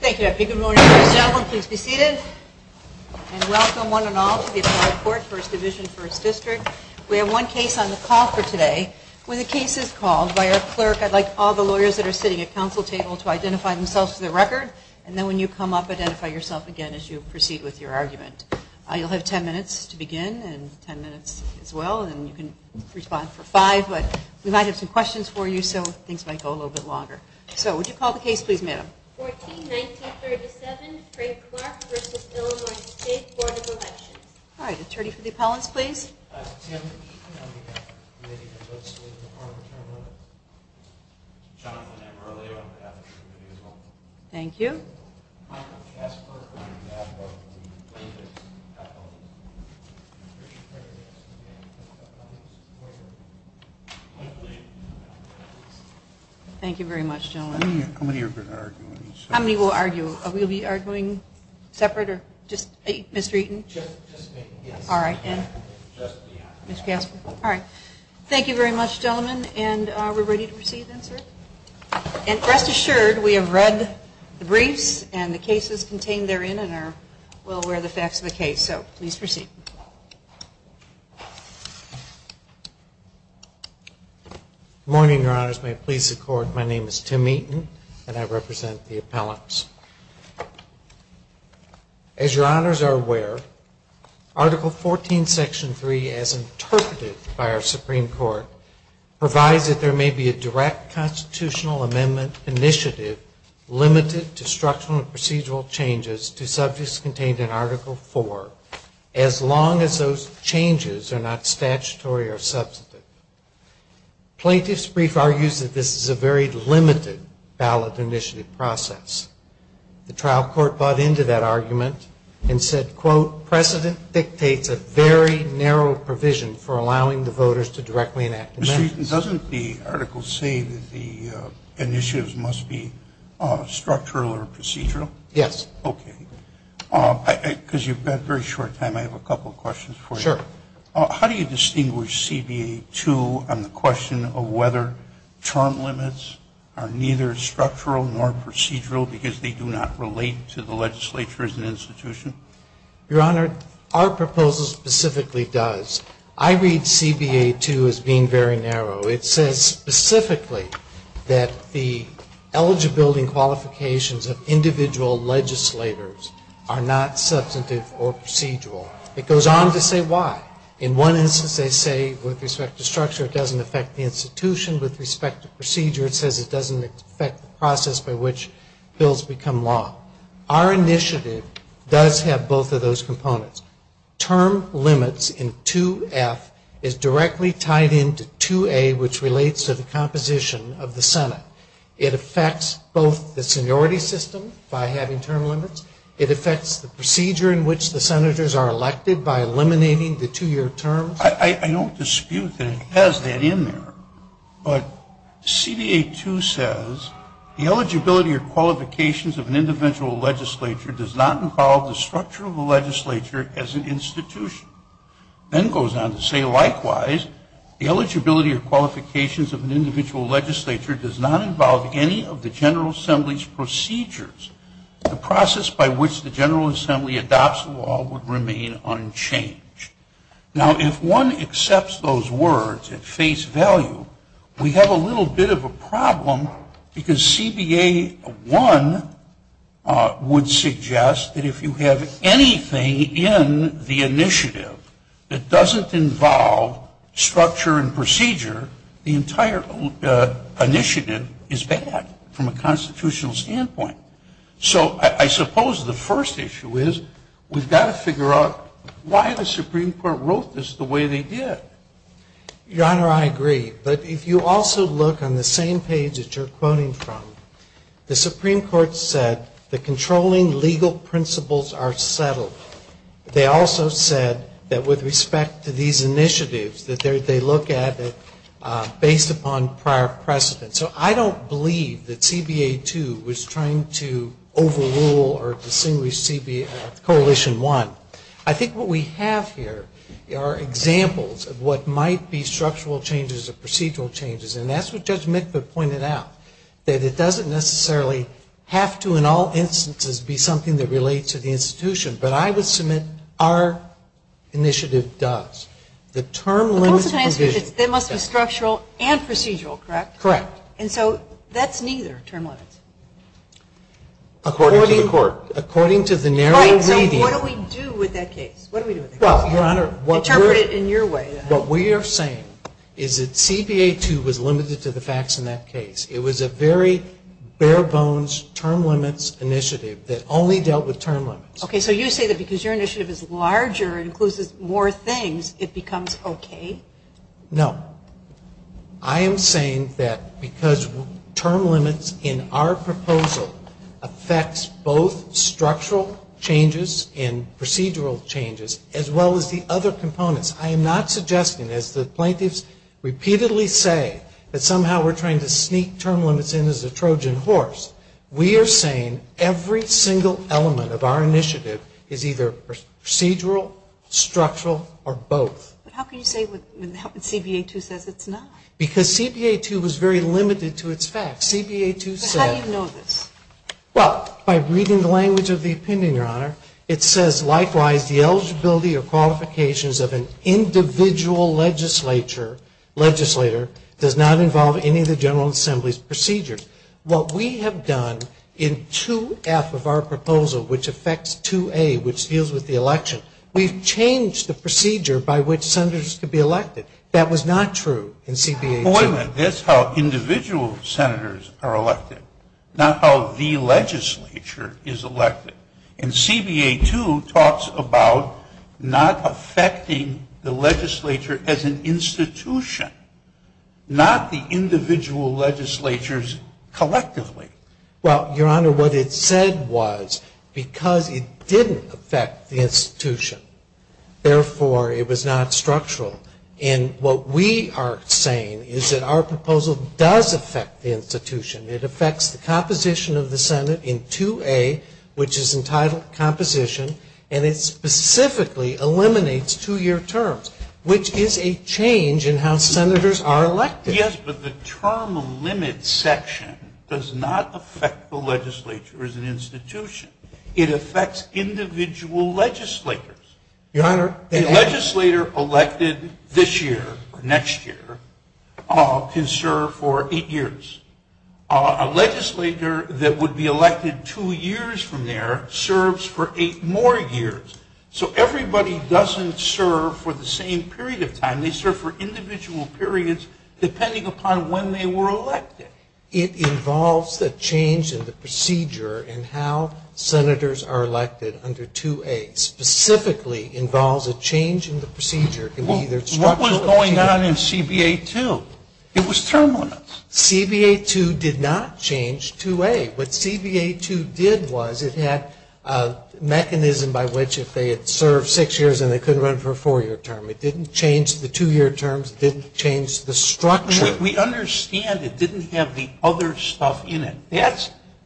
Thank you. Good morning, ladies and gentlemen. Please be seated. And welcome one and all to the Applied Court, First Division, First District. We have one case on the call for today. When the case is called, by our clerk, I'd like all the lawyers that are sitting at council table to identify themselves for the record. And then when you come up, identify yourself again as you proceed with your argument. You'll have ten minutes to begin, and ten minutes as well, and you can respond for five. But we might have some questions for you, so things might go a little bit longer. So would you call the case, please, madam? 14-1937 Craig Clark v. Illinois State Board of Elections All right. Attorney for the appellants, please. Thank you. Thank you very much, gentlemen. How many are going to argue? How many will argue? We'll be arguinging separate or just eight? Ms. Treaton? Just me. Ms. Casper? All right. Thank you very much, gentlemen, and we're ready to proceed, then, sir. And rest assured, we have read the briefs and the cases contained therein and are well aware of the facts of the case. So please proceed. Good morning, Your Honors. May it please the Court, my name is Tim Eaton, and I represent the appellants. As Your Honors are aware, Article 14, Section 3, as interpreted by our Supreme Court, provides that there may be a direct constitutional amendment initiative limited to structural and procedural changes to subjects contained in Article 4, as long as those changes are not statutory or substantive. Plaintiff's brief argues that this is a very limited ballot initiative process. The trial court bought into that argument and said, quote, precedent dictates a very narrow provision for allowing the voters to directly enact amendments. Mr. Eaton, doesn't the article say that the initiatives must be structural or procedural? Yes. Okay. Because you've got very short time, I have a couple of questions for you. Sure. How do you distinguish CBA 2 on the question of whether term limits are neither structural nor procedural because they do not relate to the legislature as an institution? Your Honor, our proposal specifically does. I read CBA 2 as being very narrow. It says specifically that the eligibility qualifications of individual legislators are not substantive or procedural. It goes on to say why. In one instance, they say with respect to structure, it doesn't affect the institution. With respect to procedure, it says it doesn't affect the process by which bills become law. Our initiative does have both of those components. Term limits in 2F is directly tied into 2A, which relates to the composition of the Senate. It affects both the seniority system by having term limits. It affects the procedure in which the senators are elected. By eliminating the two-year terms? I don't dispute that it has that in there. But CBA 2 says the eligibility or qualifications of an individual legislature does not involve the structure of the legislature as an institution. Then it goes on to say likewise, the eligibility or qualifications of an individual legislature does not involve any of the structure and procedure, the entire initiative is bad from a constitutional standpoint. So I suppose the first issue is we've got to figure out why the Supreme Court wrote this the way they did. Your Honor, I agree. But if you also look on the same page that you're quoting from, the Supreme Court said the controlling legal principles are settled. They also said that with respect to these initiatives, that they look at it based upon prior precedent. So I don't believe that CBA 2 was trying to overrule or distinguish CBA, Coalition 1. I think what we have here are examples of what might be structural changes or procedural changes. And that's what Judge Mitva pointed out, that it doesn't necessarily have to in all instances be something that relates to the institution. But I would submit our initiative does. The term limits. That must be structural and procedural, correct? Correct. And so that's neither, term limits. According to the court. According to the narrow reading. Right, so what do we do with that case? What do we do with that case? Well, Your Honor. Interpret it in your way. What we are saying is that CBA 2 was limited to the facts in that case. It was a very bare bones term limits initiative that only dealt with term limits. Okay, so you say that because your initiative is larger and includes more things, it becomes okay? No. I am saying that because term limits in our proposal affects both structural changes and procedural changes, as well as the other components. I am not suggesting, as the plaintiffs repeatedly say, that somehow we're trying to sneak term limits in as a Trojan horse. We are saying every single element of our initiative is either procedural, structural, or both. But how can you say when CBA 2 says it's not? Because CBA 2 was very limited to its facts. CBA 2 said. But how do you know this? Well, by reading the language of the opinion, Your Honor. It says, likewise, the eligibility or qualifications of an individual legislator does not involve any of the General Assembly's procedures. What we have done in 2F of our proposal, which affects 2A, which deals with the election, we've changed the procedure by which senators could be elected. That was not true in CBA 2. Appointment, that's how individual senators are elected, not how the legislature is elected. And CBA 2 talks about not affecting the legislature as an institution, not the individual legislatures collectively. Well, Your Honor, what it said was because it didn't affect the institution, therefore, it was not structural. And what we are saying is that our proposal does affect the institution. It affects the composition of the Senate in 2A, which is entitled composition, and it specifically eliminates two-year terms, which is a change in how senators are elected. Yes, but the term limit section does not affect the legislature as an institution. It affects individual legislators. Your Honor, they only A legislator elected this year or next year can serve for eight years. A legislator that would be elected two years from there serves for eight more years. So everybody doesn't serve for the same period of time. They serve for individual periods depending upon when they were elected. It involves the change in the procedure in how senators are elected under 2A, specifically involves a change in the procedure. What was going on in CBA 2? It was term limits. CBA 2 did not change 2A. What CBA 2 did was it had a mechanism by which if they had served six years and they couldn't run for a four-year term, it didn't change the two-year terms, it didn't change the structure. We understand it didn't have the other stuff in it.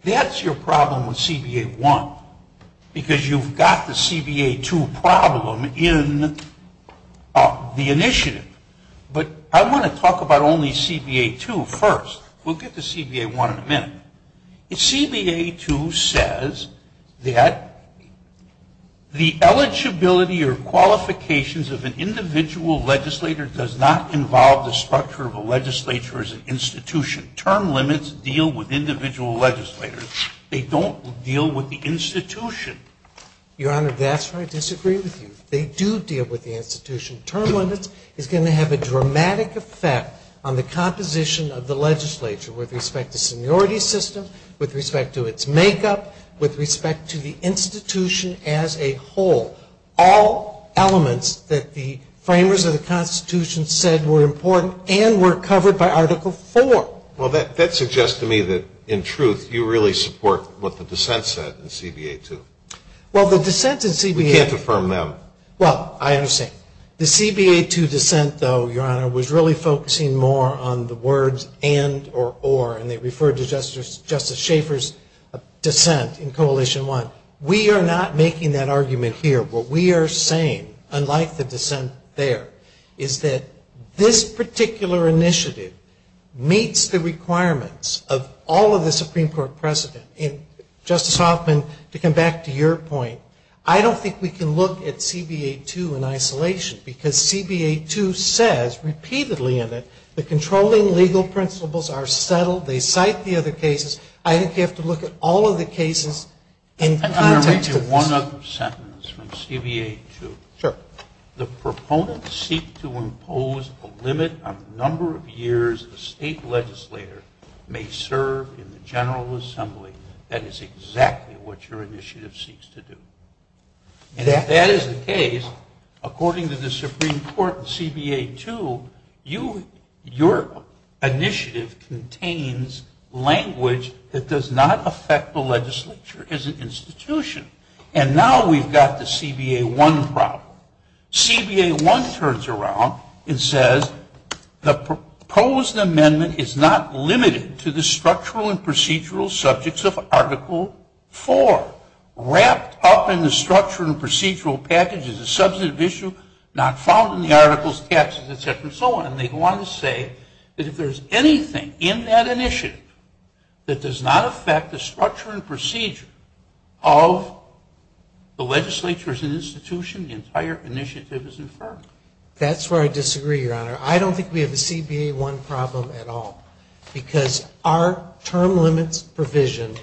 That's your problem with CBA 1 because you've got the CBA 2 problem in the initiative. But I want to talk about only CBA 2 first. We'll get to CBA 1 in a minute. CBA 2 says that the eligibility or qualifications of an individual legislator does not involve the structure of a legislature as an institution. Term limits deal with individual legislators. They don't deal with the institution. Your Honor, that's where I disagree with you. They do deal with the institution. Term limits is going to have a dramatic effect on the composition of the legislature with respect to seniority system, with respect to its makeup, with respect to the institution as a whole. All elements that the framers of the Constitution said were important and were covered by Article 4. Well, that suggests to me that, in truth, you really support what the dissent said in CBA 2. Well, the dissent in CBA 2... We can't affirm them. Well, I understand. The CBA 2 dissent, though, Your Honor, was really focusing more on the words and or or. And they referred to Justice Schaffer's dissent in Coalition 1. We are not making that argument here. What we are saying, unlike the dissent there, is that this particular initiative meets the requirements of all of the Supreme Court precedent. And, Justice Hoffman, to come back to your point, I don't think we can look at CBA 2 in isolation because CBA 2 says repeatedly in it the controlling legal principles are settled. They cite the other cases. I think you have to look at all of the cases in context of this. One other sentence from CBA 2. Sure. The proponents seek to impose a limit on the number of years a state legislator may serve in the General Assembly. That is exactly what your initiative seeks to do. And if that is the case, according to the Supreme Court in CBA 2, your initiative contains language that does not affect the legislature as an institution. And now we've got the CBA 1 problem. CBA 1 turns around and says the proposed amendment is not limited to the structural and procedural subjects of Article 4. Wrapped up in the structure and procedural package is a substantive issue not found in the articles, taxes, etc. and so on. And they want to say that if there is anything in that initiative that does not affect the structure and procedure of the legislature as an institution, the entire initiative is inferred. That's where I disagree, Your Honor. I don't think we have a CBA 1 problem at all. Because our term limits provision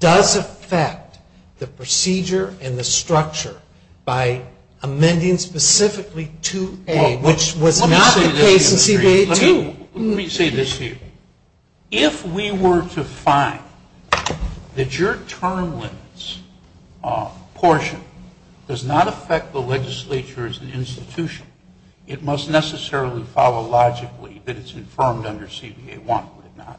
does affect the procedure and the structure by amending specifically 2A, which was not the case in CBA 2. Let me say this to you. If we were to find that your term limits portion of the CBA 1 provision does not affect the structural and procedure of the legislature as an institution, it must necessarily follow logically that it's infirmed under CBA 1, would it not?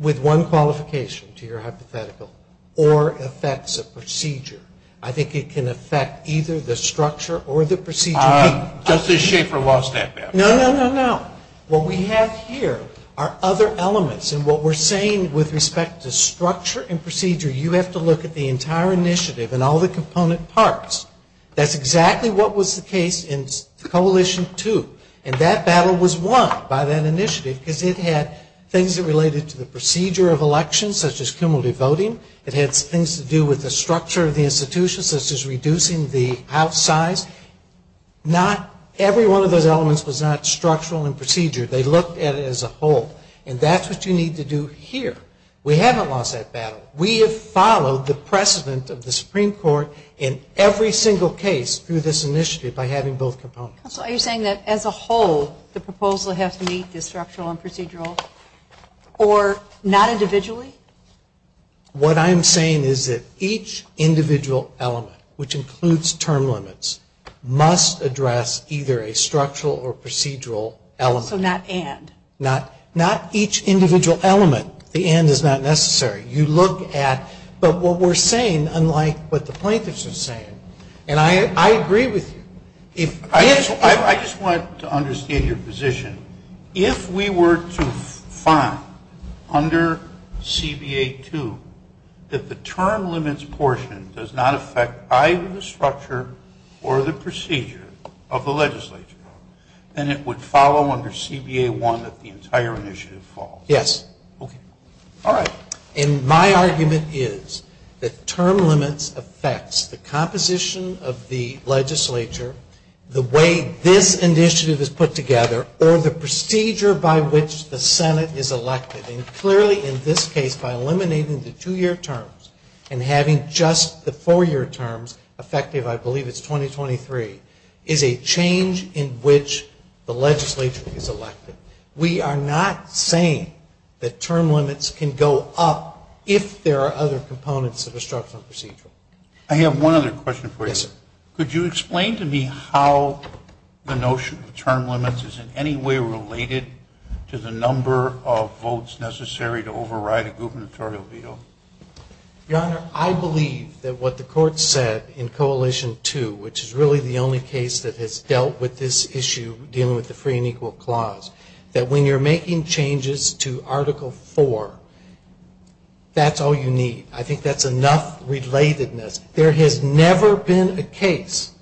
With one qualification, to your hypothetical, or affects a procedure. I think it can affect either the structure or the procedure. Does this shape or loss that bad? No, no, no. What we have here are other elements. And what we're saying with respect to structure and procedure, you have to look at the entire initiative and all the component parts. That's exactly what was the case in Coalition 2. And that battle was won by that initiative because it had things that related to the procedure of elections, such as cumulative voting. It had things to do with the structure of the institution, such as reducing the house size. Not every one of those elements was not structural and procedure. They looked at it as a whole. And that's what you need to do here. We haven't lost that battle. We have followed the precedent of the Supreme Court in every single case through this initiative by having both components. Are you saying that as a whole the proposal has to meet the structural and procedural or not individually? What I am saying is that each individual element, which includes term limits, must address either a structural or procedural element. So not and. Not each individual element. The and is not necessary. You look at, but what we're saying, unlike what the plaintiffs are saying, and I agree with you. I just wanted to understand your position. If we were to find under CBA 2 that the term limits portion does not affect either the legislative process or the procedure by which the Senate is elected, and clearly in this case by eliminating the two-year terms and having just the four-year terms effective, I believe it's 2023, is a change in which the legislature is elected. We are not going to change that. We are not saying that term limits can go up if there are other components of a structural and procedural. I have one other question for you. Yes, sir. Could you explain to me how the notion of term limits is in any way related to the number of votes necessary to override a gubernatorial veto? Your Honor, I believe that what the Court said in Coalition 2, which is really the only case that has dealt with this issue dealing with the free and equal clause, that when you're making changes to Article 4, that's all you need. I think that's enough relatedness. There has never been a case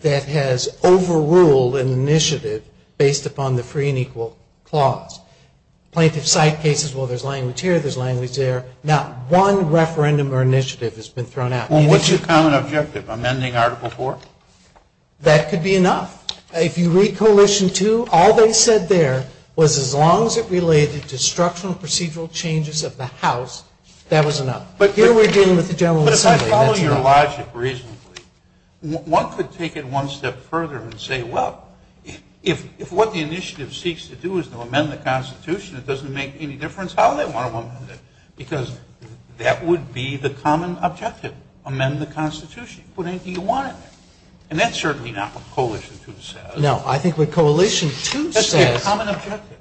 that has overruled an initiative based upon the free and equal clause. Plaintiff side cases, well, there's language here, there's language there. Not one referendum or initiative has been thrown out. Well, what's your common objective, amending Article 4? That could be enough. If you read Coalition 2, all they said there was as long as it related to structural and procedural changes of the House, that was enough. But here we're dealing with the general assembly. But if I follow your logic reasonably, one could take it one step further and say, well, if what the initiative seeks to do is to amend the Constitution, it doesn't make any difference, how do they want to amend it? Because that would be the common objective, amend the Constitution. Put anything you want in there. And that's certainly not what Coalition 2 says. No, I think what Coalition 2 says That's their common objective.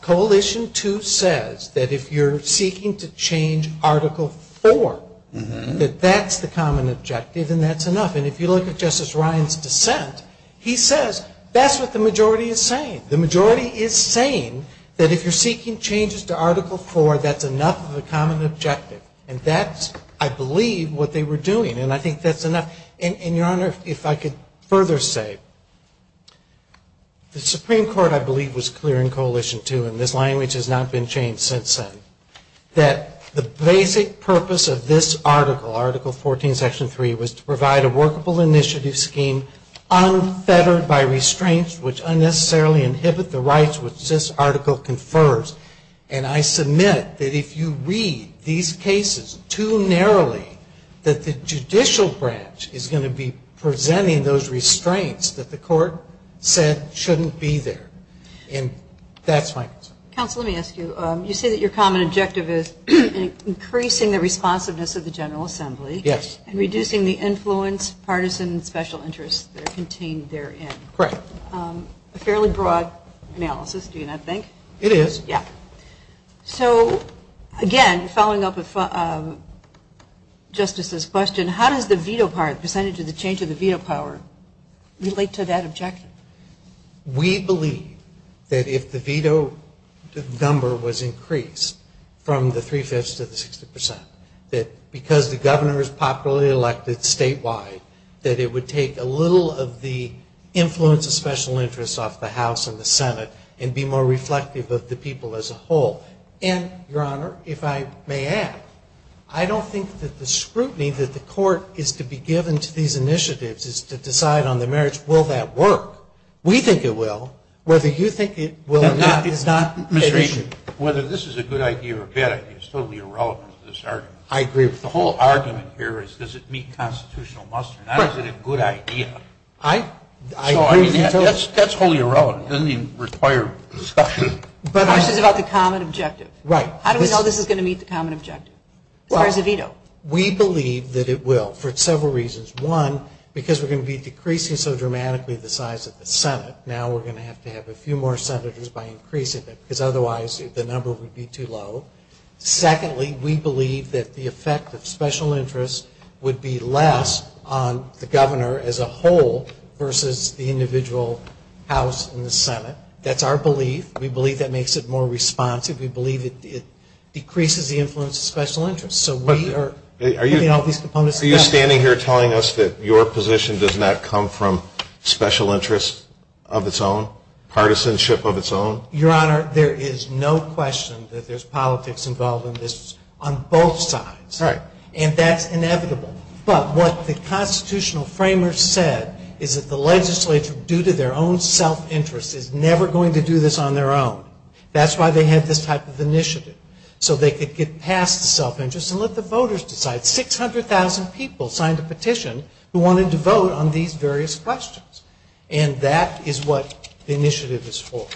Coalition 2 says that if you're seeking to change Article 4, that that's the common objective and that's enough. And if you look at Justice Ryan's dissent, he says that's what the majority is saying. The majority is saying that if you're seeking changes to Article 4, that's enough of a common objective and that's what you're doing. And I think that's enough. And, Your Honor, if I could further say, the Supreme Court, I believe, was clear in Coalition 2, and this language has not been changed since then, that the basic purpose of this article, Article 14, Section 3, was to provide a workable initiative scheme unfettered by restraints which unnecessarily inhibit the rights which this article confers. And I submit that if you read these cases too narrowly, that the general assembly judicial branch is going to be presenting those restraints that the court said shouldn't be there. And that's my concern. Counsel, let me ask you. You say that your common objective is increasing the responsiveness of the general assembly. Yes. And reducing the influence, partisan, and special interests that are contained therein. Correct. A fairly broad analysis, do you not think? It is. So, again, following up with Justice's question, how does the veto power, the percentage of the change of the veto power, relate to that objective? We believe that if the veto number was increased from the three-fifths to the 60 percent, that because the governor is popularly elected statewide, that it would take a little of the influence of special interests off the House and the Senate and be more reflective of the people's as a whole. And, Your Honor, if I may add, I don't think that the scrutiny that the court is to be given to these initiatives is to decide on the merits. Will that work? We think it will. Whether you think it will or not is not an issue. Whether this is a good idea or a bad idea is totally irrelevant to this argument. I agree with you. The whole argument here is does it meet constitutional must or not? Is it a good idea? I agree with you. That's wholly irrelevant. It doesn't even require discussion. The question is about the common objective. Right. How do we know this is going to meet the common objective as far as the veto? We believe that it will for several reasons. One, because we're going to be decreasing so dramatically the size of the Senate, now we're going to have to have a few more senators by increasing it because otherwise the number would be too low. Secondly, we believe that the effect of special interests would be less on the governor as a whole versus the individual House and the Senate. That's our belief. We believe that makes it more responsive. We believe it decreases the influence of special interests. So we are putting all these components together. Are you standing here telling us that your position does not come from special interests of its own, partisanship of its own? Your Honor, there is no question that there's politics involved in this on both sides. Right. And that's inevitable. But what the constitutional framers said is that the legislature, due to their own self-interest, is never going to do this on their own. That's why they had this type of initiative, so they could get past the self-interest and let the voters decide. Six hundred thousand people signed a petition who wanted to vote on these various questions. And that is what the initiative is for.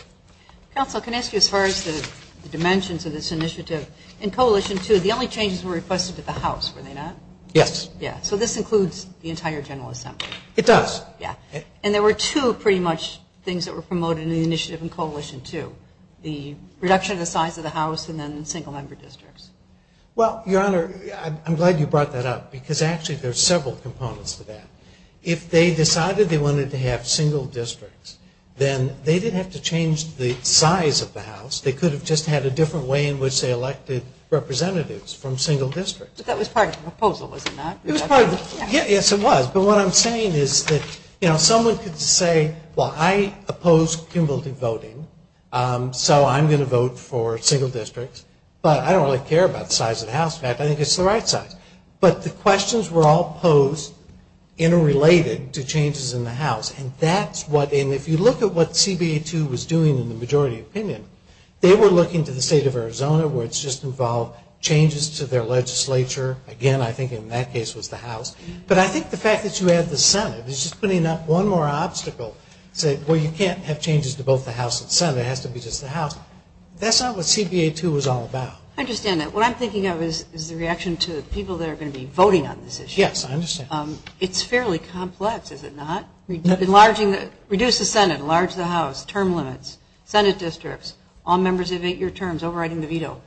Counsel, can I ask you as far as the dimensions of this initiative? In Coalition 2, the only changes were requested to the House, were they not? Yes. Yeah. So this includes the entire General Assembly. It does. Yeah. And there were two pretty much things that were promoted in the initiative in Coalition 2, the reduction of the size of the House and then single-member districts. Well, Your Honor, I'm glad you brought that up, because actually there's several components to that. If they decided they wanted to have single districts, then they didn't have to change the size of the House. They could have just had a different way in which they elected representatives from single districts. But that was part of the proposal, was it not? Yes, it was. But what I'm saying is that, you know, someone could say, well, I oppose cumulative voting, so I'm going to vote for single districts. But I don't really care about the size of the House. In fact, I think it's the right size. But the questions were all posed interrelated to changes in the House. And that's what, and if you look at what CBA 2 was doing in the majority opinion, they were looking to the State of Arizona, where it's just involved changes to their legislature. Again, I think in that case it was the House. But I think the fact that you add the Senate is just putting up one more obstacle. Say, well, you can't have changes to both the House and Senate. It has to be just the House. That's not what CBA 2 was all about. I understand that. What I'm thinking of is the reaction to the people that are going to be voting on this issue. Yes, I understand. It's fairly complex, is it not? Reduce the Senate, enlarge the House, term limits, Senate districts, all members of eight-year terms, overriding the veto.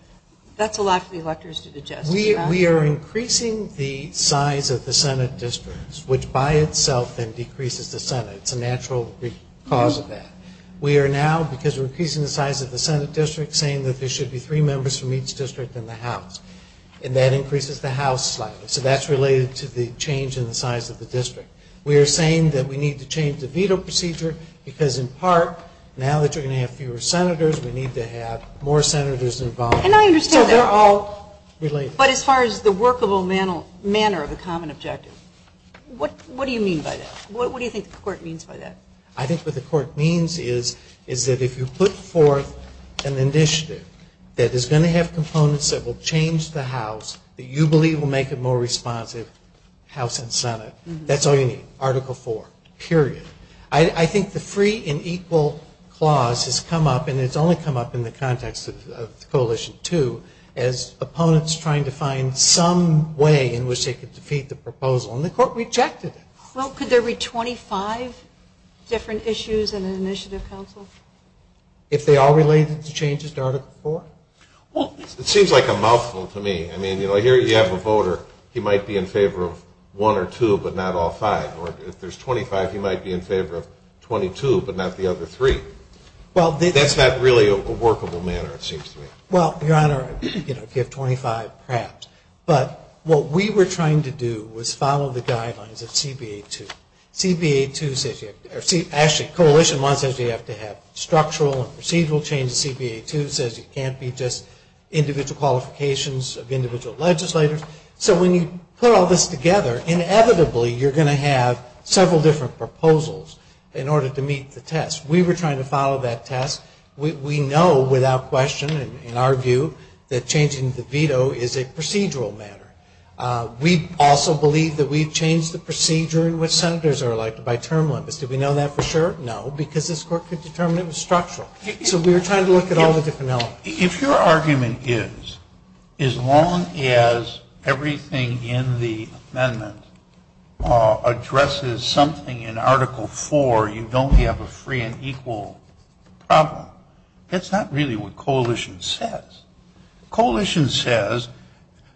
That's a lot for the electors to digest. We are increasing the size of the Senate districts, which by itself then decreases the Senate. It's a natural cause of that. We are now, because we're increasing the size of the Senate district, saying that there should be three members from each district in the House. And that increases the House slightly. So that's related to the change in the size of the district. We are saying that we need to change the veto procedure because, in part, now that you're going to have fewer Senators, we need to have more Senators involved. And I understand that. So they're all related. But as far as the workable manner of the common objective, what do you mean by that? What do you think the Court means by that? I think what the Court means is that if you put forth an initiative that is going to have components that will change the House that you believe will make it more responsive, House and Senate, that's all you need, Article IV, period. I think the free and equal clause has come up, and it's only come up in the context of Coalition 2, as opponents trying to find some way in which they could defeat the proposal. And the Court rejected it. Well, could there be 25 different issues in an initiative, counsel? If they are related to changes to Article IV? Well, it seems like a mouthful to me. I mean, you know, here you have a voter. He might be in favor of one or two, but not all five. Or if there's 25, he might be in favor of 22, but not the other three. That's not really a workable manner, it seems to me. Well, Your Honor, if you have 25, perhaps. But what we were trying to do was follow the guidelines of CBA 2. Actually, Coalition 1 says you have to have structural and procedural changes. CBA 2 says it can't be just individual qualifications of individual legislators. So when you put all this together, inevitably you're going to have several different proposals in order to meet the test. We were trying to follow that test. We know without question, in our view, that changing the veto is a procedural matter. We also believe that we've changed the procedure in which senators are elected by term limits. Do we know that for sure? No, because this Court could determine it was structural. So we were trying to look at all the different elements. If your argument is as long as everything in the amendment addresses something in Article 4, you don't have a free and equal problem, that's not really what Coalition says. Coalition says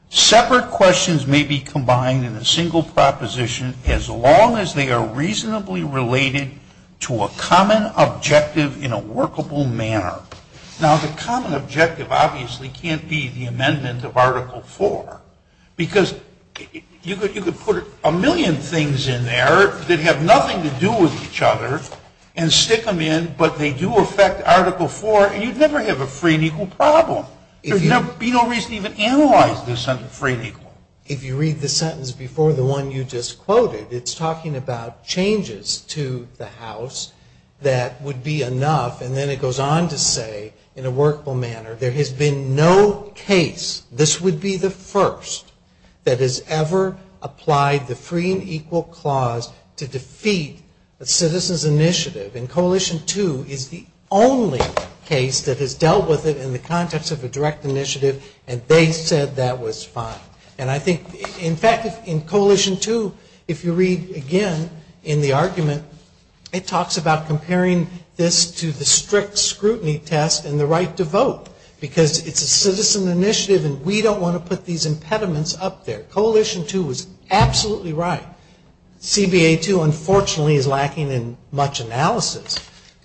separate questions may be combined in a single proposition as long as they are reasonably related to a common objective in a workable manner. Now, the common objective obviously can't be the amendment of Article 4 because you could put a million things in there that have nothing to do with each other and stick them in, but they do affect Article 4, and you'd never have a free and equal problem. There would be no reason to even analyze this under free and equal. If you read the sentence before the one you just quoted, it's talking about changes to the House that would be enough, and then it goes on to say in a workable manner, there has been no case, this would be the first, that has ever applied the free and equal clause to defeat a citizen's initiative. And Coalition 2 is the only case that has dealt with it in the context of a direct initiative, and they said that was fine. And I think, in fact, in Coalition 2, if you read again in the argument, it talks about comparing this to the strict scrutiny test and the right to vote because it's a citizen initiative and we don't want to put these impediments up there. Coalition 2 is absolutely right. CBA 2, unfortunately, is lacking in much analysis,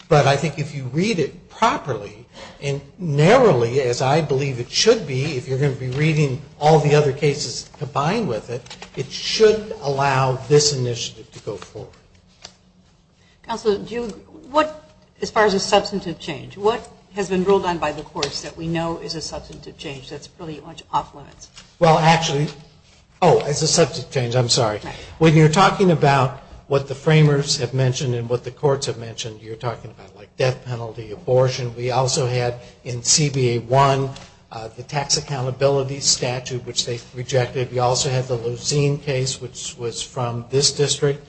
but I think if you read it properly and narrowly, as I believe it should be, if you're going to be reading all the other cases combined with it, it should allow this initiative to go forward. Counselor, as far as a substantive change, what has been ruled on by the courts that we know is a substantive change that's pretty much off limits? Well, actually, oh, as a substantive change, I'm sorry. When you're talking about what the framers have mentioned and what the courts have mentioned, you're talking about like death penalty, abortion. We also had in CBA 1 the tax accountability statute, which they rejected. We also had the Leusine case, which was from this district,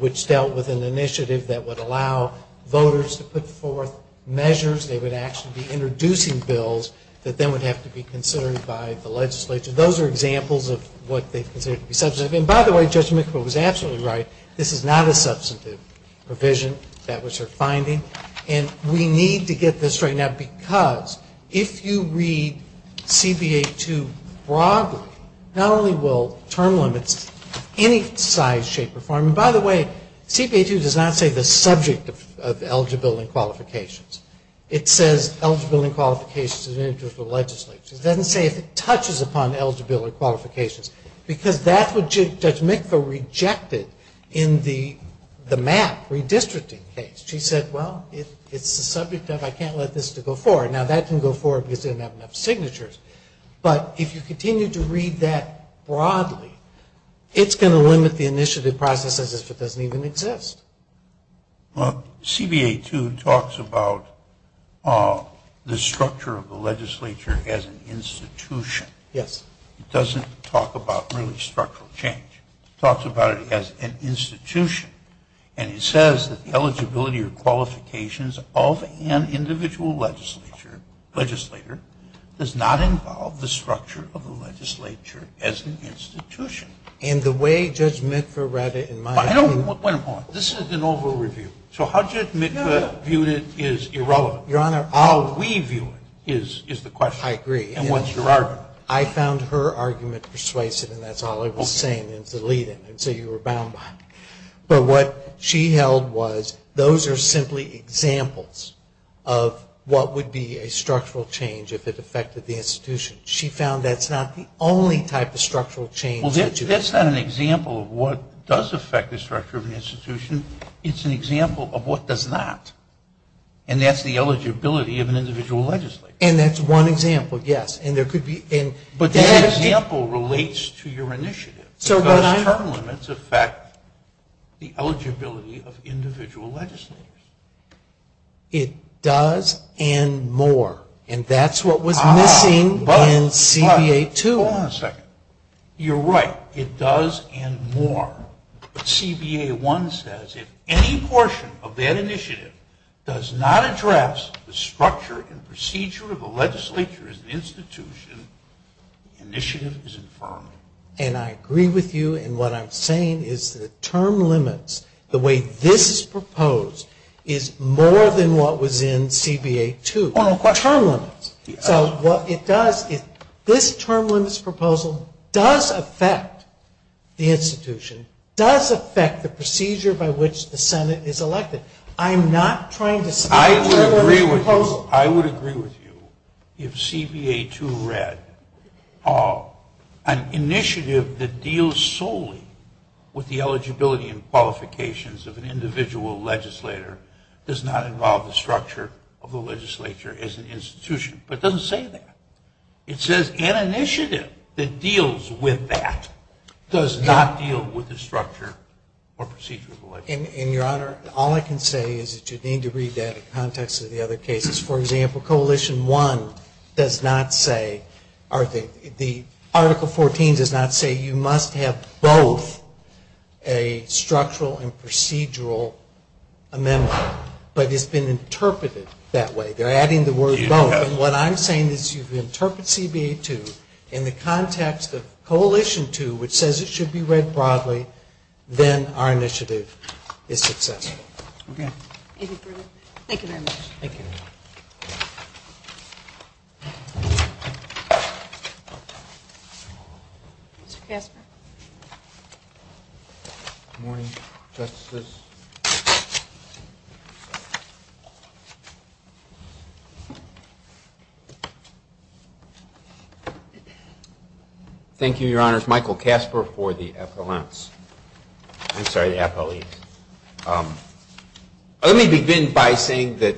which dealt with an initiative that would allow voters to put forth measures. They would actually be introducing bills that then would have to be considered by the legislature. Those are examples of what they consider to be substantive. And by the way, Judge McAvoy was absolutely right. This is not a substantive provision. That was her finding. And we need to get this straightened out because if you read CBA 2 broadly, not only will term limits of any size, shape, or form, and by the way, CBA 2 does not say the subject of eligibility and qualifications. It says eligibility and qualifications in the interest of the legislature. It doesn't say if it touches upon eligibility and qualifications because that's what Judge McAvoy rejected in the MAP redistricting case. She said, well, it's the subject of I can't let this go forward. Now, that can go forward because they don't have enough signatures. But if you continue to read that broadly, it's going to limit the initiative process as if it doesn't even exist. CBA 2 talks about the structure of the legislature as an institution. Yes. It doesn't talk about really structural change. It talks about it as an institution. And it says that the eligibility or qualifications of an individual legislature does not involve the structure of the legislature as an institution. And the way Judge Mitva read it in my opinion. Wait a moment. This is an over-review. So how Judge Mitva viewed it is irrelevant. Your Honor. How we view it is the question. I agree. And what's your argument? I found her argument persuasive, and that's all I was saying. So you were bound by it. But what she held was those are simply examples of what would be a structural change if it affected the institution. She found that's not the only type of structural change. Well, that's not an example of what does affect the structure of an institution. It's an example of what does not. And that's the eligibility of an individual legislature. And that's one example, yes. That example relates to your initiative. Does term limits affect the eligibility of individual legislators? It does and more. And that's what was missing in CBA 2. Hold on a second. You're right. It does and more. But CBA 1 says if any portion of that initiative does not address the structure and procedure of the legislature as an institution, the initiative is infirmed. And I agree with you. And what I'm saying is the term limits, the way this is proposed, is more than what was in CBA 2. Hold on a question. Term limits. So what it does is this term limits proposal does affect the institution, does affect the procedure by which the Senate is elected. I would agree with you if CBA 2 read, an initiative that deals solely with the eligibility and qualifications of an individual legislator does not involve the structure of the legislature as an institution. But it doesn't say that. It says an initiative that deals with that does not deal with the structure or procedure of the legislature. And, Your Honor, all I can say is that you need to read that in context of the other cases. For example, Coalition 1 does not say or the Article 14 does not say you must have both a structural and procedural amendment. But it's been interpreted that way. They're adding the word both. And what I'm saying is if you interpret CBA 2 in the context of Coalition 2, which says it should be read broadly, then our initiative is successful. Okay. Anything further? Thank you very much. Thank you. Mr. Kasper. Good morning, Justices. Thank you, Your Honors. Michael Kasper for the appellants. I'm sorry, the appellees. Let me begin by saying that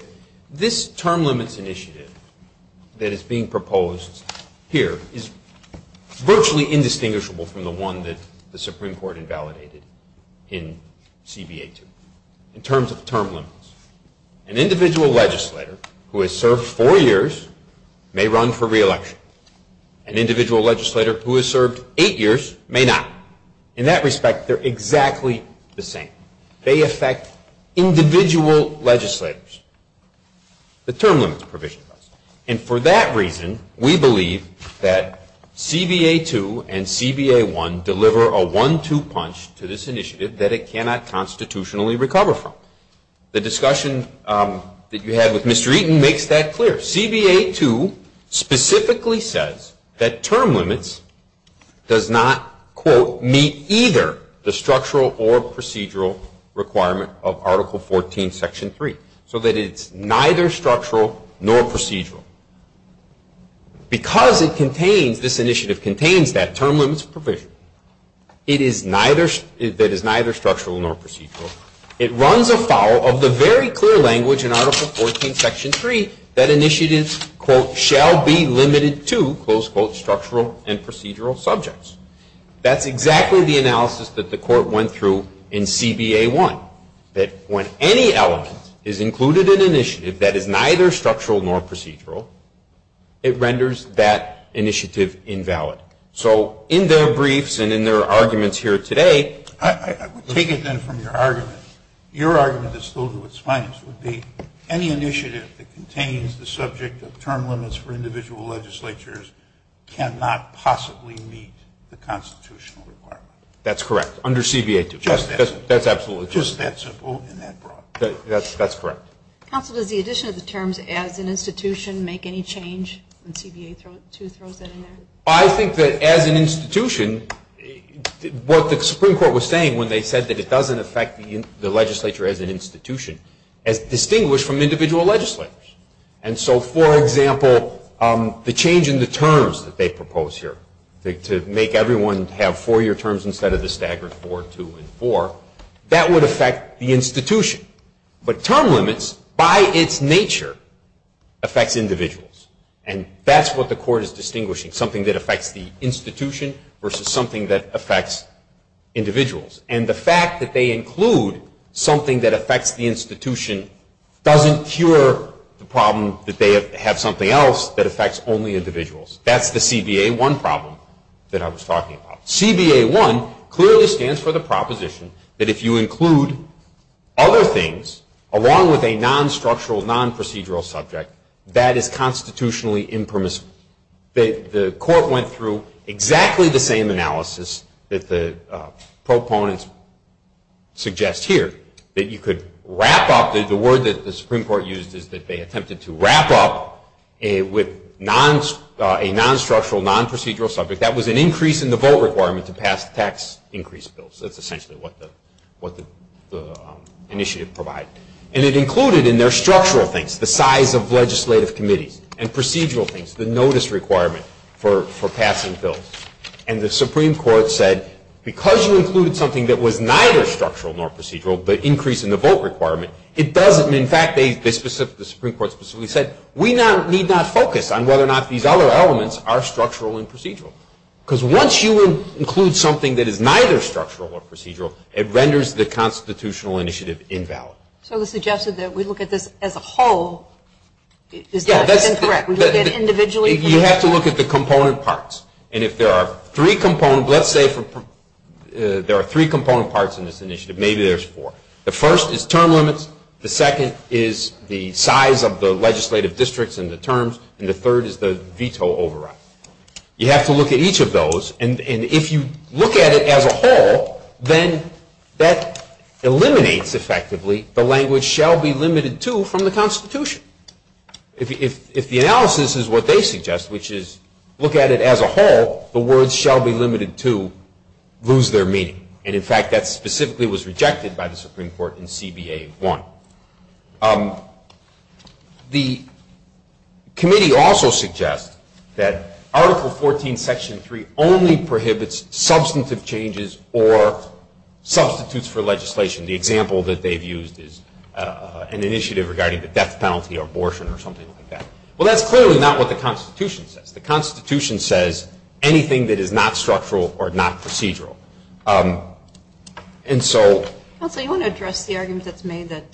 this term limits initiative that is being proposed here is virtually indistinguishable from the one that the Supreme Court invalidated in CBA 2 in terms of term limits. An individual legislator who has served four years may run for re-election. An individual legislator who has served eight years may not. In that respect, they're exactly the same. They affect individual legislators. The term limits provision does. And for that reason, we believe that CBA 2 and CBA 1 deliver a one-two punch to this initiative that it cannot constitutionally recover from. The discussion that you had with Mr. Eaton makes that clear. CBA 2 specifically says that term limits does not, quote, meet either the structural or procedural requirement of Article 14, Section 3, so that it's neither structural nor procedural. Because this initiative contains that term limits provision, it is neither structural nor procedural. It runs afoul of the very clear language in Article 14, Section 3, that initiatives, quote, shall be limited to, close quote, structural and procedural subjects. That's exactly the analysis that the Court went through in CBA 1, that when any element is included in an initiative that is neither structural nor procedural, it renders that initiative invalid. So in their briefs and in their arguments here today ---- I would take it then from your argument, your argument that's filled with spines would be any initiative that contains the subject of term limits for individual legislatures cannot possibly meet the constitutional requirement. That's correct, under CBA 2. Just that simple. That's correct. Counsel, does the addition of the terms as an institution make any change when CBA 2 throws that in there? I think that as an institution, what the Supreme Court was saying when they said that it doesn't affect the legislature as an institution is distinguished from individual legislatures. And so, for example, the change in the terms that they propose here to make everyone have four-year terms instead of the staggered four, two, and four, that would affect the institution. But term limits, by its nature, affects individuals. And that's what the Court is distinguishing, something that affects the institution versus something that affects individuals. And the fact that they include something that affects the institution doesn't cure the problem that they have something else that affects only individuals. That's the CBA 1 problem that I was talking about. CBA 1 clearly stands for the proposition that if you include other things, along with a non-structural, non-procedural subject, that is constitutionally impermissible. The Court went through exactly the same analysis that the proponents suggest here, that you could wrap up. The word that the Supreme Court used is that they attempted to wrap up with a non-structural, non-procedural subject. That was an increase in the vote requirement to pass tax increase bills. That's essentially what the initiative provided. And it included in their structural things, the size of legislative committees and procedural things, the notice requirement for passing bills. And the Supreme Court said, because you included something that was neither structural nor procedural, the increase in the vote requirement, it doesn't. In fact, the Supreme Court specifically said, we need not focus on whether or not these other elements are structural and procedural. Because once you include something that is neither structural or procedural, it renders the constitutional initiative invalid. So they suggested that we look at this as a whole. Is that incorrect? We look at it individually? You have to look at the component parts. And if there are three component parts in this initiative, maybe there's four. The first is term limits. The second is the size of the legislative districts and the terms. And the third is the veto override. You have to look at each of those. And if you look at it as a whole, then that eliminates, effectively, the language shall be limited to from the Constitution. If the analysis is what they suggest, which is look at it as a whole, the words shall be limited to lose their meaning. And, in fact, that specifically was rejected by the Supreme Court in CBA 1. The committee also suggests that Article 14, Section 3, only prohibits substantive changes or substitutes for legislation. The example that they've used is an initiative regarding the death penalty or abortion or something like that. Well, that's clearly not what the Constitution says. The Constitution says anything that is not structural or not procedural. And so. Counsel, you want to address the argument that's made that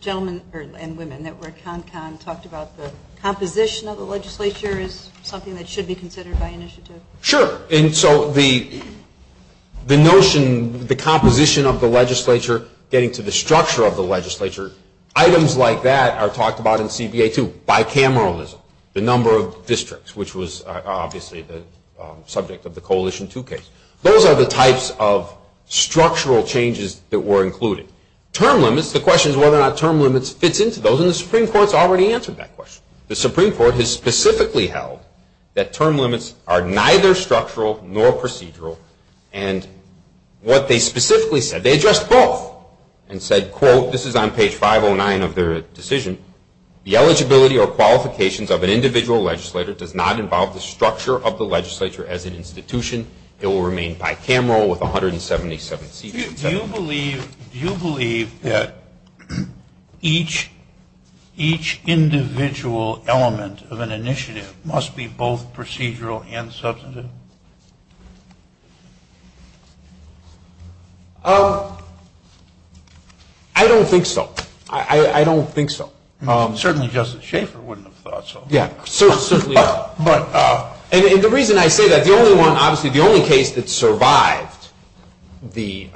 gentlemen and women that were at CONCON talked about the composition of the legislature as something that should be considered by initiative? Sure. And so the notion, the composition of the legislature, getting to the structure of the legislature, items like that are talked about in CBA 2, bicameralism, the number of districts, which was obviously the subject of the Coalition 2 case. Those are the types of structural changes that were included. Term limits, the question is whether or not term limits fits into those, and the Supreme Court has already answered that question. The Supreme Court has specifically held that term limits are neither structural nor procedural. And what they specifically said, they addressed both and said, quote, this is on page 509 of their decision, the eligibility or qualifications of an individual legislator does not involve the structure of the legislature as an institution. It will remain bicameral with 177 seats. Do you believe that each individual element of an initiative must be both procedural and substantive? I don't think so. I don't think so. Certainly Justice Schaffer wouldn't have thought so. And the reason I say that, the only case that survived the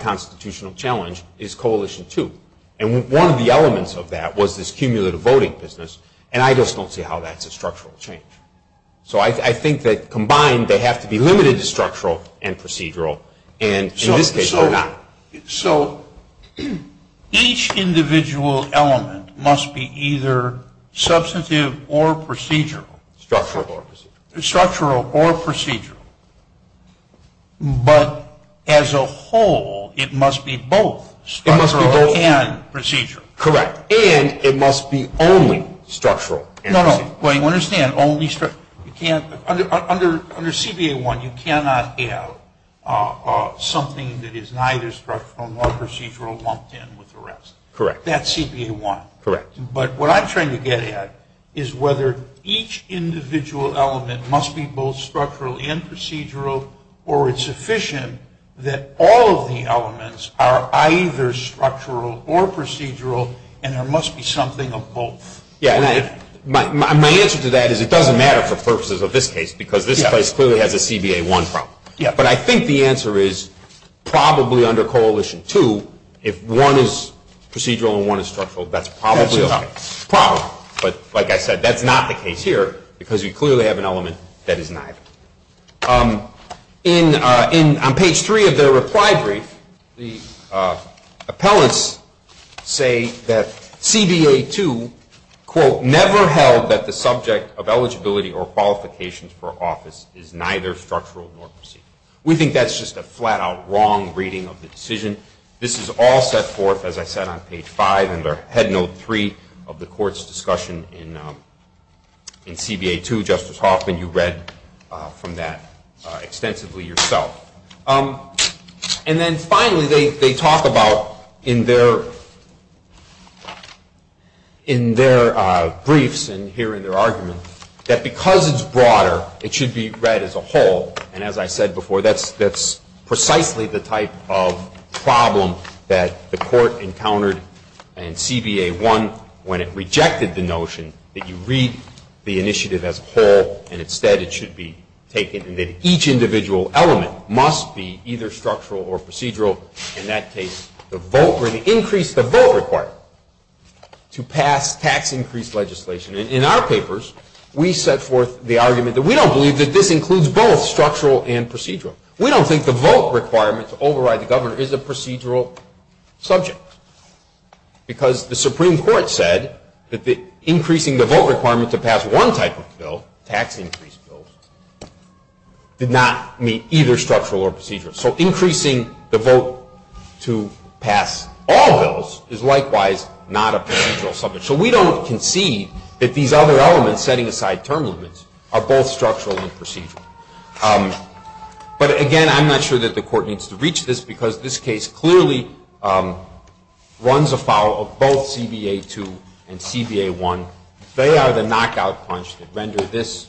constitutional challenge is Coalition 2. And one of the elements of that was this cumulative voting business, and I just don't see how that's a structural change. So I think that combined they have to be limited to structural and procedural, and in this case they're not. So each individual element must be either substantive or procedural. Structural or procedural. Structural or procedural. But as a whole, it must be both structural and procedural. Correct. And it must be only structural and procedural. No, no, but you understand, only structural. Under CBA 1, you cannot have something that is neither structural nor procedural lumped in with the rest. Correct. That's CBA 1. Correct. But what I'm trying to get at is whether each individual element must be both structural and procedural, or it's sufficient that all of the elements are either structural or procedural, and there must be something of both. Yeah, and my answer to that is it doesn't matter for purposes of this case because this place clearly has a CBA 1 problem. Yeah. But I think the answer is probably under Coalition 2, if one is procedural and one is structural, that's probably a problem. But like I said, that's not the case here because you clearly have an element that is neither. On page 3 of their reply brief, the appellants say that CBA 2, quote, never held that the subject of eligibility or qualifications for office is neither structural nor procedural. We think that's just a flat-out wrong reading of the decision. This is all set forth, as I said, on page 5 in their head note 3 of the court's discussion in CBA 2. Justice Hoffman, you read from that extensively yourself. And then finally, they talk about in their briefs and here in their argument that because it's broader, it should be read as a whole. And as I said before, that's precisely the type of problem that the court encountered in CBA 1 when it rejected the notion that you read the initiative as a whole and instead it should be taken and that each individual element must be either structural or procedural. In that case, the vote or the increase the vote required to pass tax increase legislation. In our papers, we set forth the argument that we don't believe that this includes both structural and procedural. We don't think the vote requirement to override the governor is a procedural subject because the Supreme Court said that increasing the vote requirement to pass one type of bill, tax increase bill, did not meet either structural or procedural. So increasing the vote to pass all bills is likewise not a procedural subject. So we don't concede that these other elements setting aside term limits are both structural and procedural. But again, I'm not sure that the court needs to reach this because this case clearly runs afoul of both CBA 2 and CBA 1. They are the knockout punch that rendered this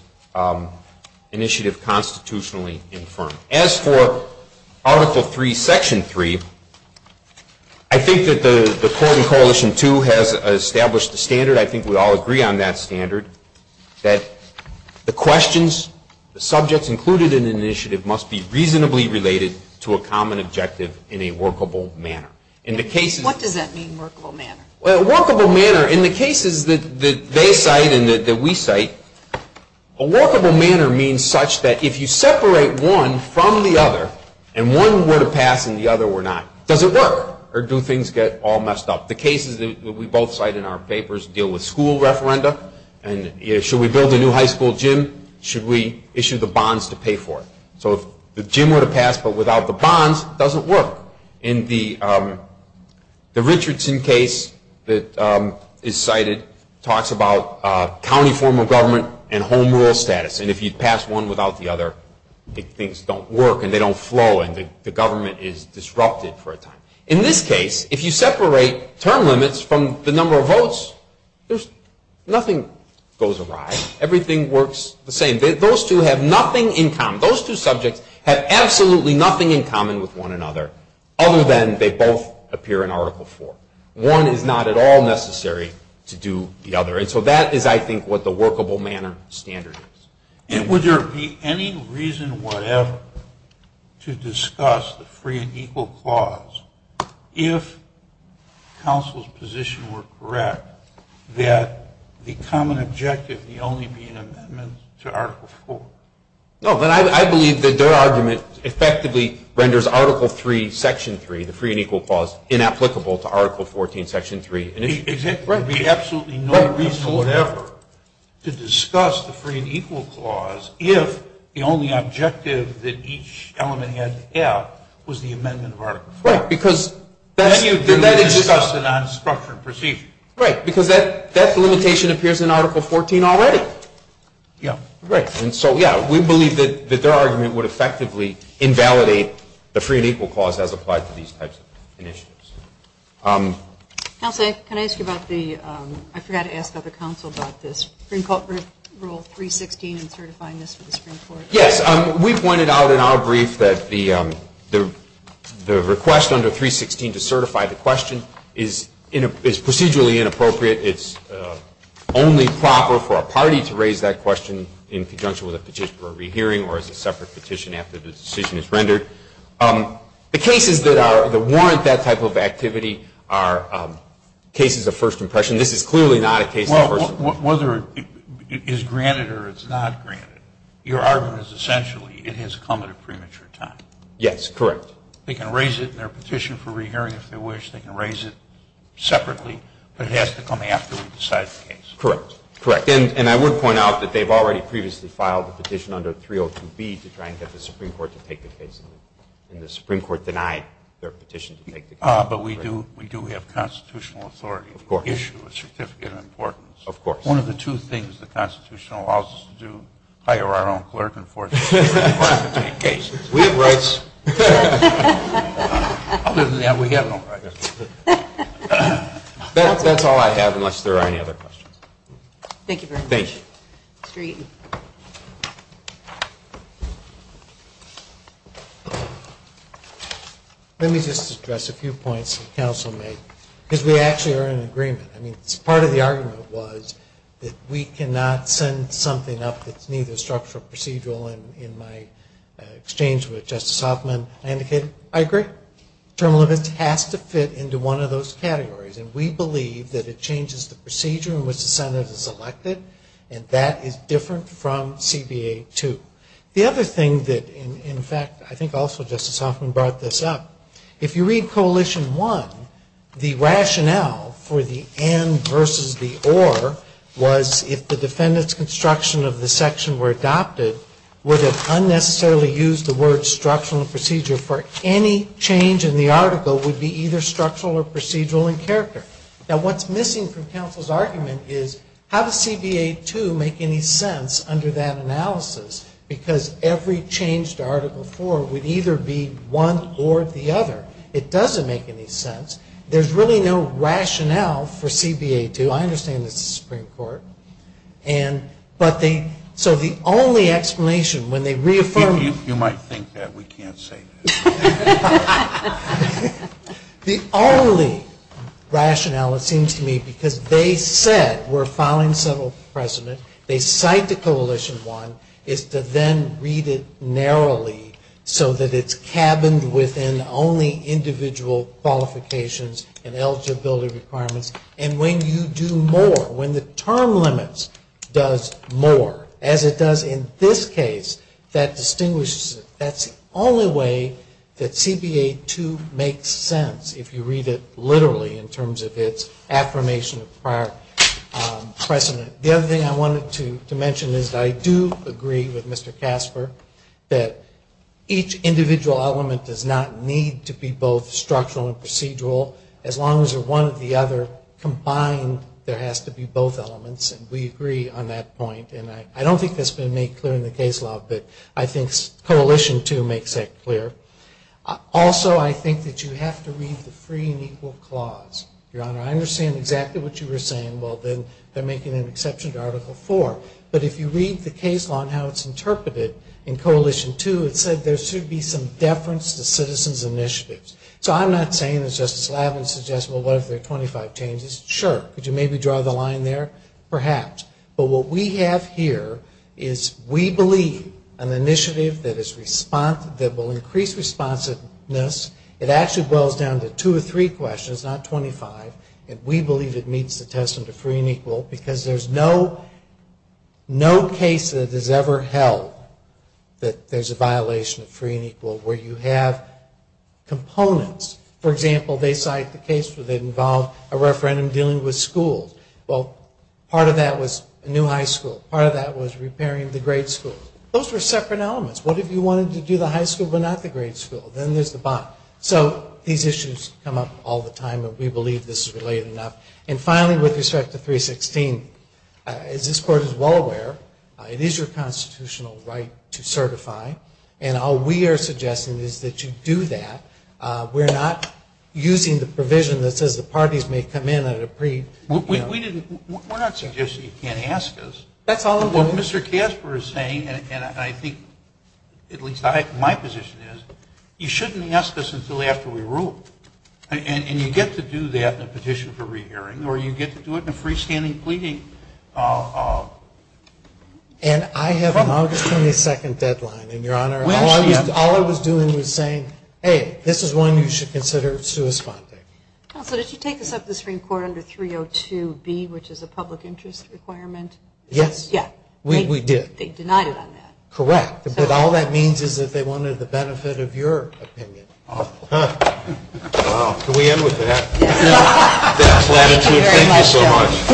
initiative constitutionally infirm. As for Article 3, Section 3, I think that the court in Coalition 2 has established a standard. I think we all agree on that standard that the questions, the subjects included in an initiative, must be reasonably related to a common objective in a workable manner. What does that mean, workable manner? Well, workable manner, in the cases that they cite and that we cite, a workable manner means such that if you separate one from the other and one were to pass and the other were not, does it work or do things get all messed up? The cases that we both cite in our papers deal with school referenda. Should we build a new high school gym? Should we issue the bonds to pay for it? So if the gym were to pass but without the bonds, does it work? In the Richardson case that is cited, it talks about county form of government and home rule status. And if you pass one without the other, things don't work and they don't flow and the government is disrupted for a time. In this case, if you separate term limits from the number of votes, nothing goes awry. Everything works the same. Those two have nothing in common. Those two subjects have absolutely nothing in common with one another other than they both appear in Article IV. One is not at all necessary to do the other. And so that is, I think, what the workable manner standard is. And would there be any reason whatever to discuss the free and equal clause if counsel's position were correct that the common objective may only be an amendment to Article IV? No, but I believe that their argument effectively renders Article III, Section 3, the free and equal clause, inapplicable to Article XIV, Section 3. Exactly. There would be absolutely no reason whatever to discuss the free and equal clause if the only objective that each element had to have was the amendment of Article IV. Right. Because then you discuss it on structure and procedure. Right. Because that limitation appears in Article XIV already. Yeah. Right. And so, yeah, we believe that their argument would effectively invalidate the free and equal clause as applied to these types of initiatives. Counsel, can I ask you about the, I forgot to ask other counsel about this, Supreme Court Rule 316 and certifying this for the Supreme Court. Yes. We pointed out in our brief that the request under 316 to certify the question is procedurally inappropriate. It's only proper for a party to raise that question in conjunction with a petition for a rehearing or as a separate petition after the decision is rendered. The cases that warrant that type of activity are cases of first impression. This is clearly not a case of first impression. Well, whether it is granted or it's not granted, your argument is essentially it has come at a premature time. Yes. Correct. They can raise it in their petition for rehearing if they wish. They can raise it separately, but it has to come after we decide the case. Correct. Correct. And I would point out that they've already previously filed a petition under 302B to try and get the Supreme Court to take the case, and the Supreme Court denied their petition to take the case. But we do have constitutional authority to issue a certificate of importance. Of course. One of the two things the Constitution allows us to do, hire our own clerk and force the Supreme Court to take cases. We have rights. Other than that, we have no rights. That's all I have unless there are any other questions. Thank you very much. Thank you. Mr. Eaton. Let me just address a few points the Council made, because we actually are in agreement. I mean, part of the argument was that we cannot send something up that's neither structural or procedural. And in my exchange with Justice Hoffman, I indicated I agree. Term limits has to fit into one of those categories. And we believe that it changes the procedure in which the Senate is elected, and that is different from CBA 2. The other thing that, in fact, I think also Justice Hoffman brought this up, if you read Coalition 1, the rationale for the and versus the or was if the defendant's construction of the section were adopted, would it unnecessarily use the word structural procedure for any change in the article would be either structural or procedural in character. Now, what's missing from Council's argument is how does CBA 2 make any sense under that analysis, because every change to Article 4 would either be one or the other. It doesn't make any sense. There's really no rationale for CBA 2. I understand this is the Supreme Court. And so the only explanation when they reaffirm. You might think that. We can't say that. The only rationale, it seems to me, because they said we're filing several precedent, they cite the Coalition 1, is to then read it narrowly so that it's cabined within only individual qualifications and eligibility requirements. And when you do more, when the term limits does more, as it does in this case, that distinguishes it. That's the only way that CBA 2 makes sense if you read it literally in terms of its affirmation of prior precedent. The other thing I wanted to mention is I do agree with Mr. Casper that each individual element does not need to be both structural and procedural, as long as they're one or the other combined, there has to be both elements. And we agree on that point. And I don't think that's been made clear in the case law, but I think Coalition 2 makes that clear. Also, I think that you have to read the Free and Equal Clause. Your Honor, I understand exactly what you were saying. Well, then they're making an exception to Article 4. But if you read the case law and how it's interpreted in Coalition 2, it said there should be some deference to citizens' initiatives. So I'm not saying, as Justice Lavalin suggests, well, what if there are 25 changes? Sure. Could you maybe draw the line there? Perhaps. But what we have here is we believe an initiative that will increase responsiveness, it actually boils down to two or three questions, not 25, and we believe it meets the testament of free and equal because there's no case that is ever held that there's a violation of free and equal where you have components. For example, they cite the case where they involve a referendum dealing with schools. Well, part of that was a new high school. Part of that was repairing the grade school. Those were separate elements. What if you wanted to do the high school but not the grade school? Then there's the bond. So these issues come up all the time, but we believe this is related enough. And finally, with respect to 316, as this Court is well aware, it is your constitutional right to certify, and all we are suggesting is that you do that. We're not using the provision that says the parties may come in at a pre- We're not suggesting you can't ask us. That's all I'm doing. What Mr. Casper is saying, and I think at least my position is, you shouldn't ask us until after we rule. And you get to do that in a petition for rehearing, or you get to do it in a freestanding pleading. And I have an August 22nd deadline, and, Your Honor, all I was doing was saying, A, this is one you should consider suspending. Counsel, did you take us up the Supreme Court under 302B, which is a public interest requirement? Yes. Yeah. We did. They denied it on that. Correct. But all that means is that they wanted the benefit of your opinion. Can we end with that?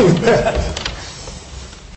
Thank you so much.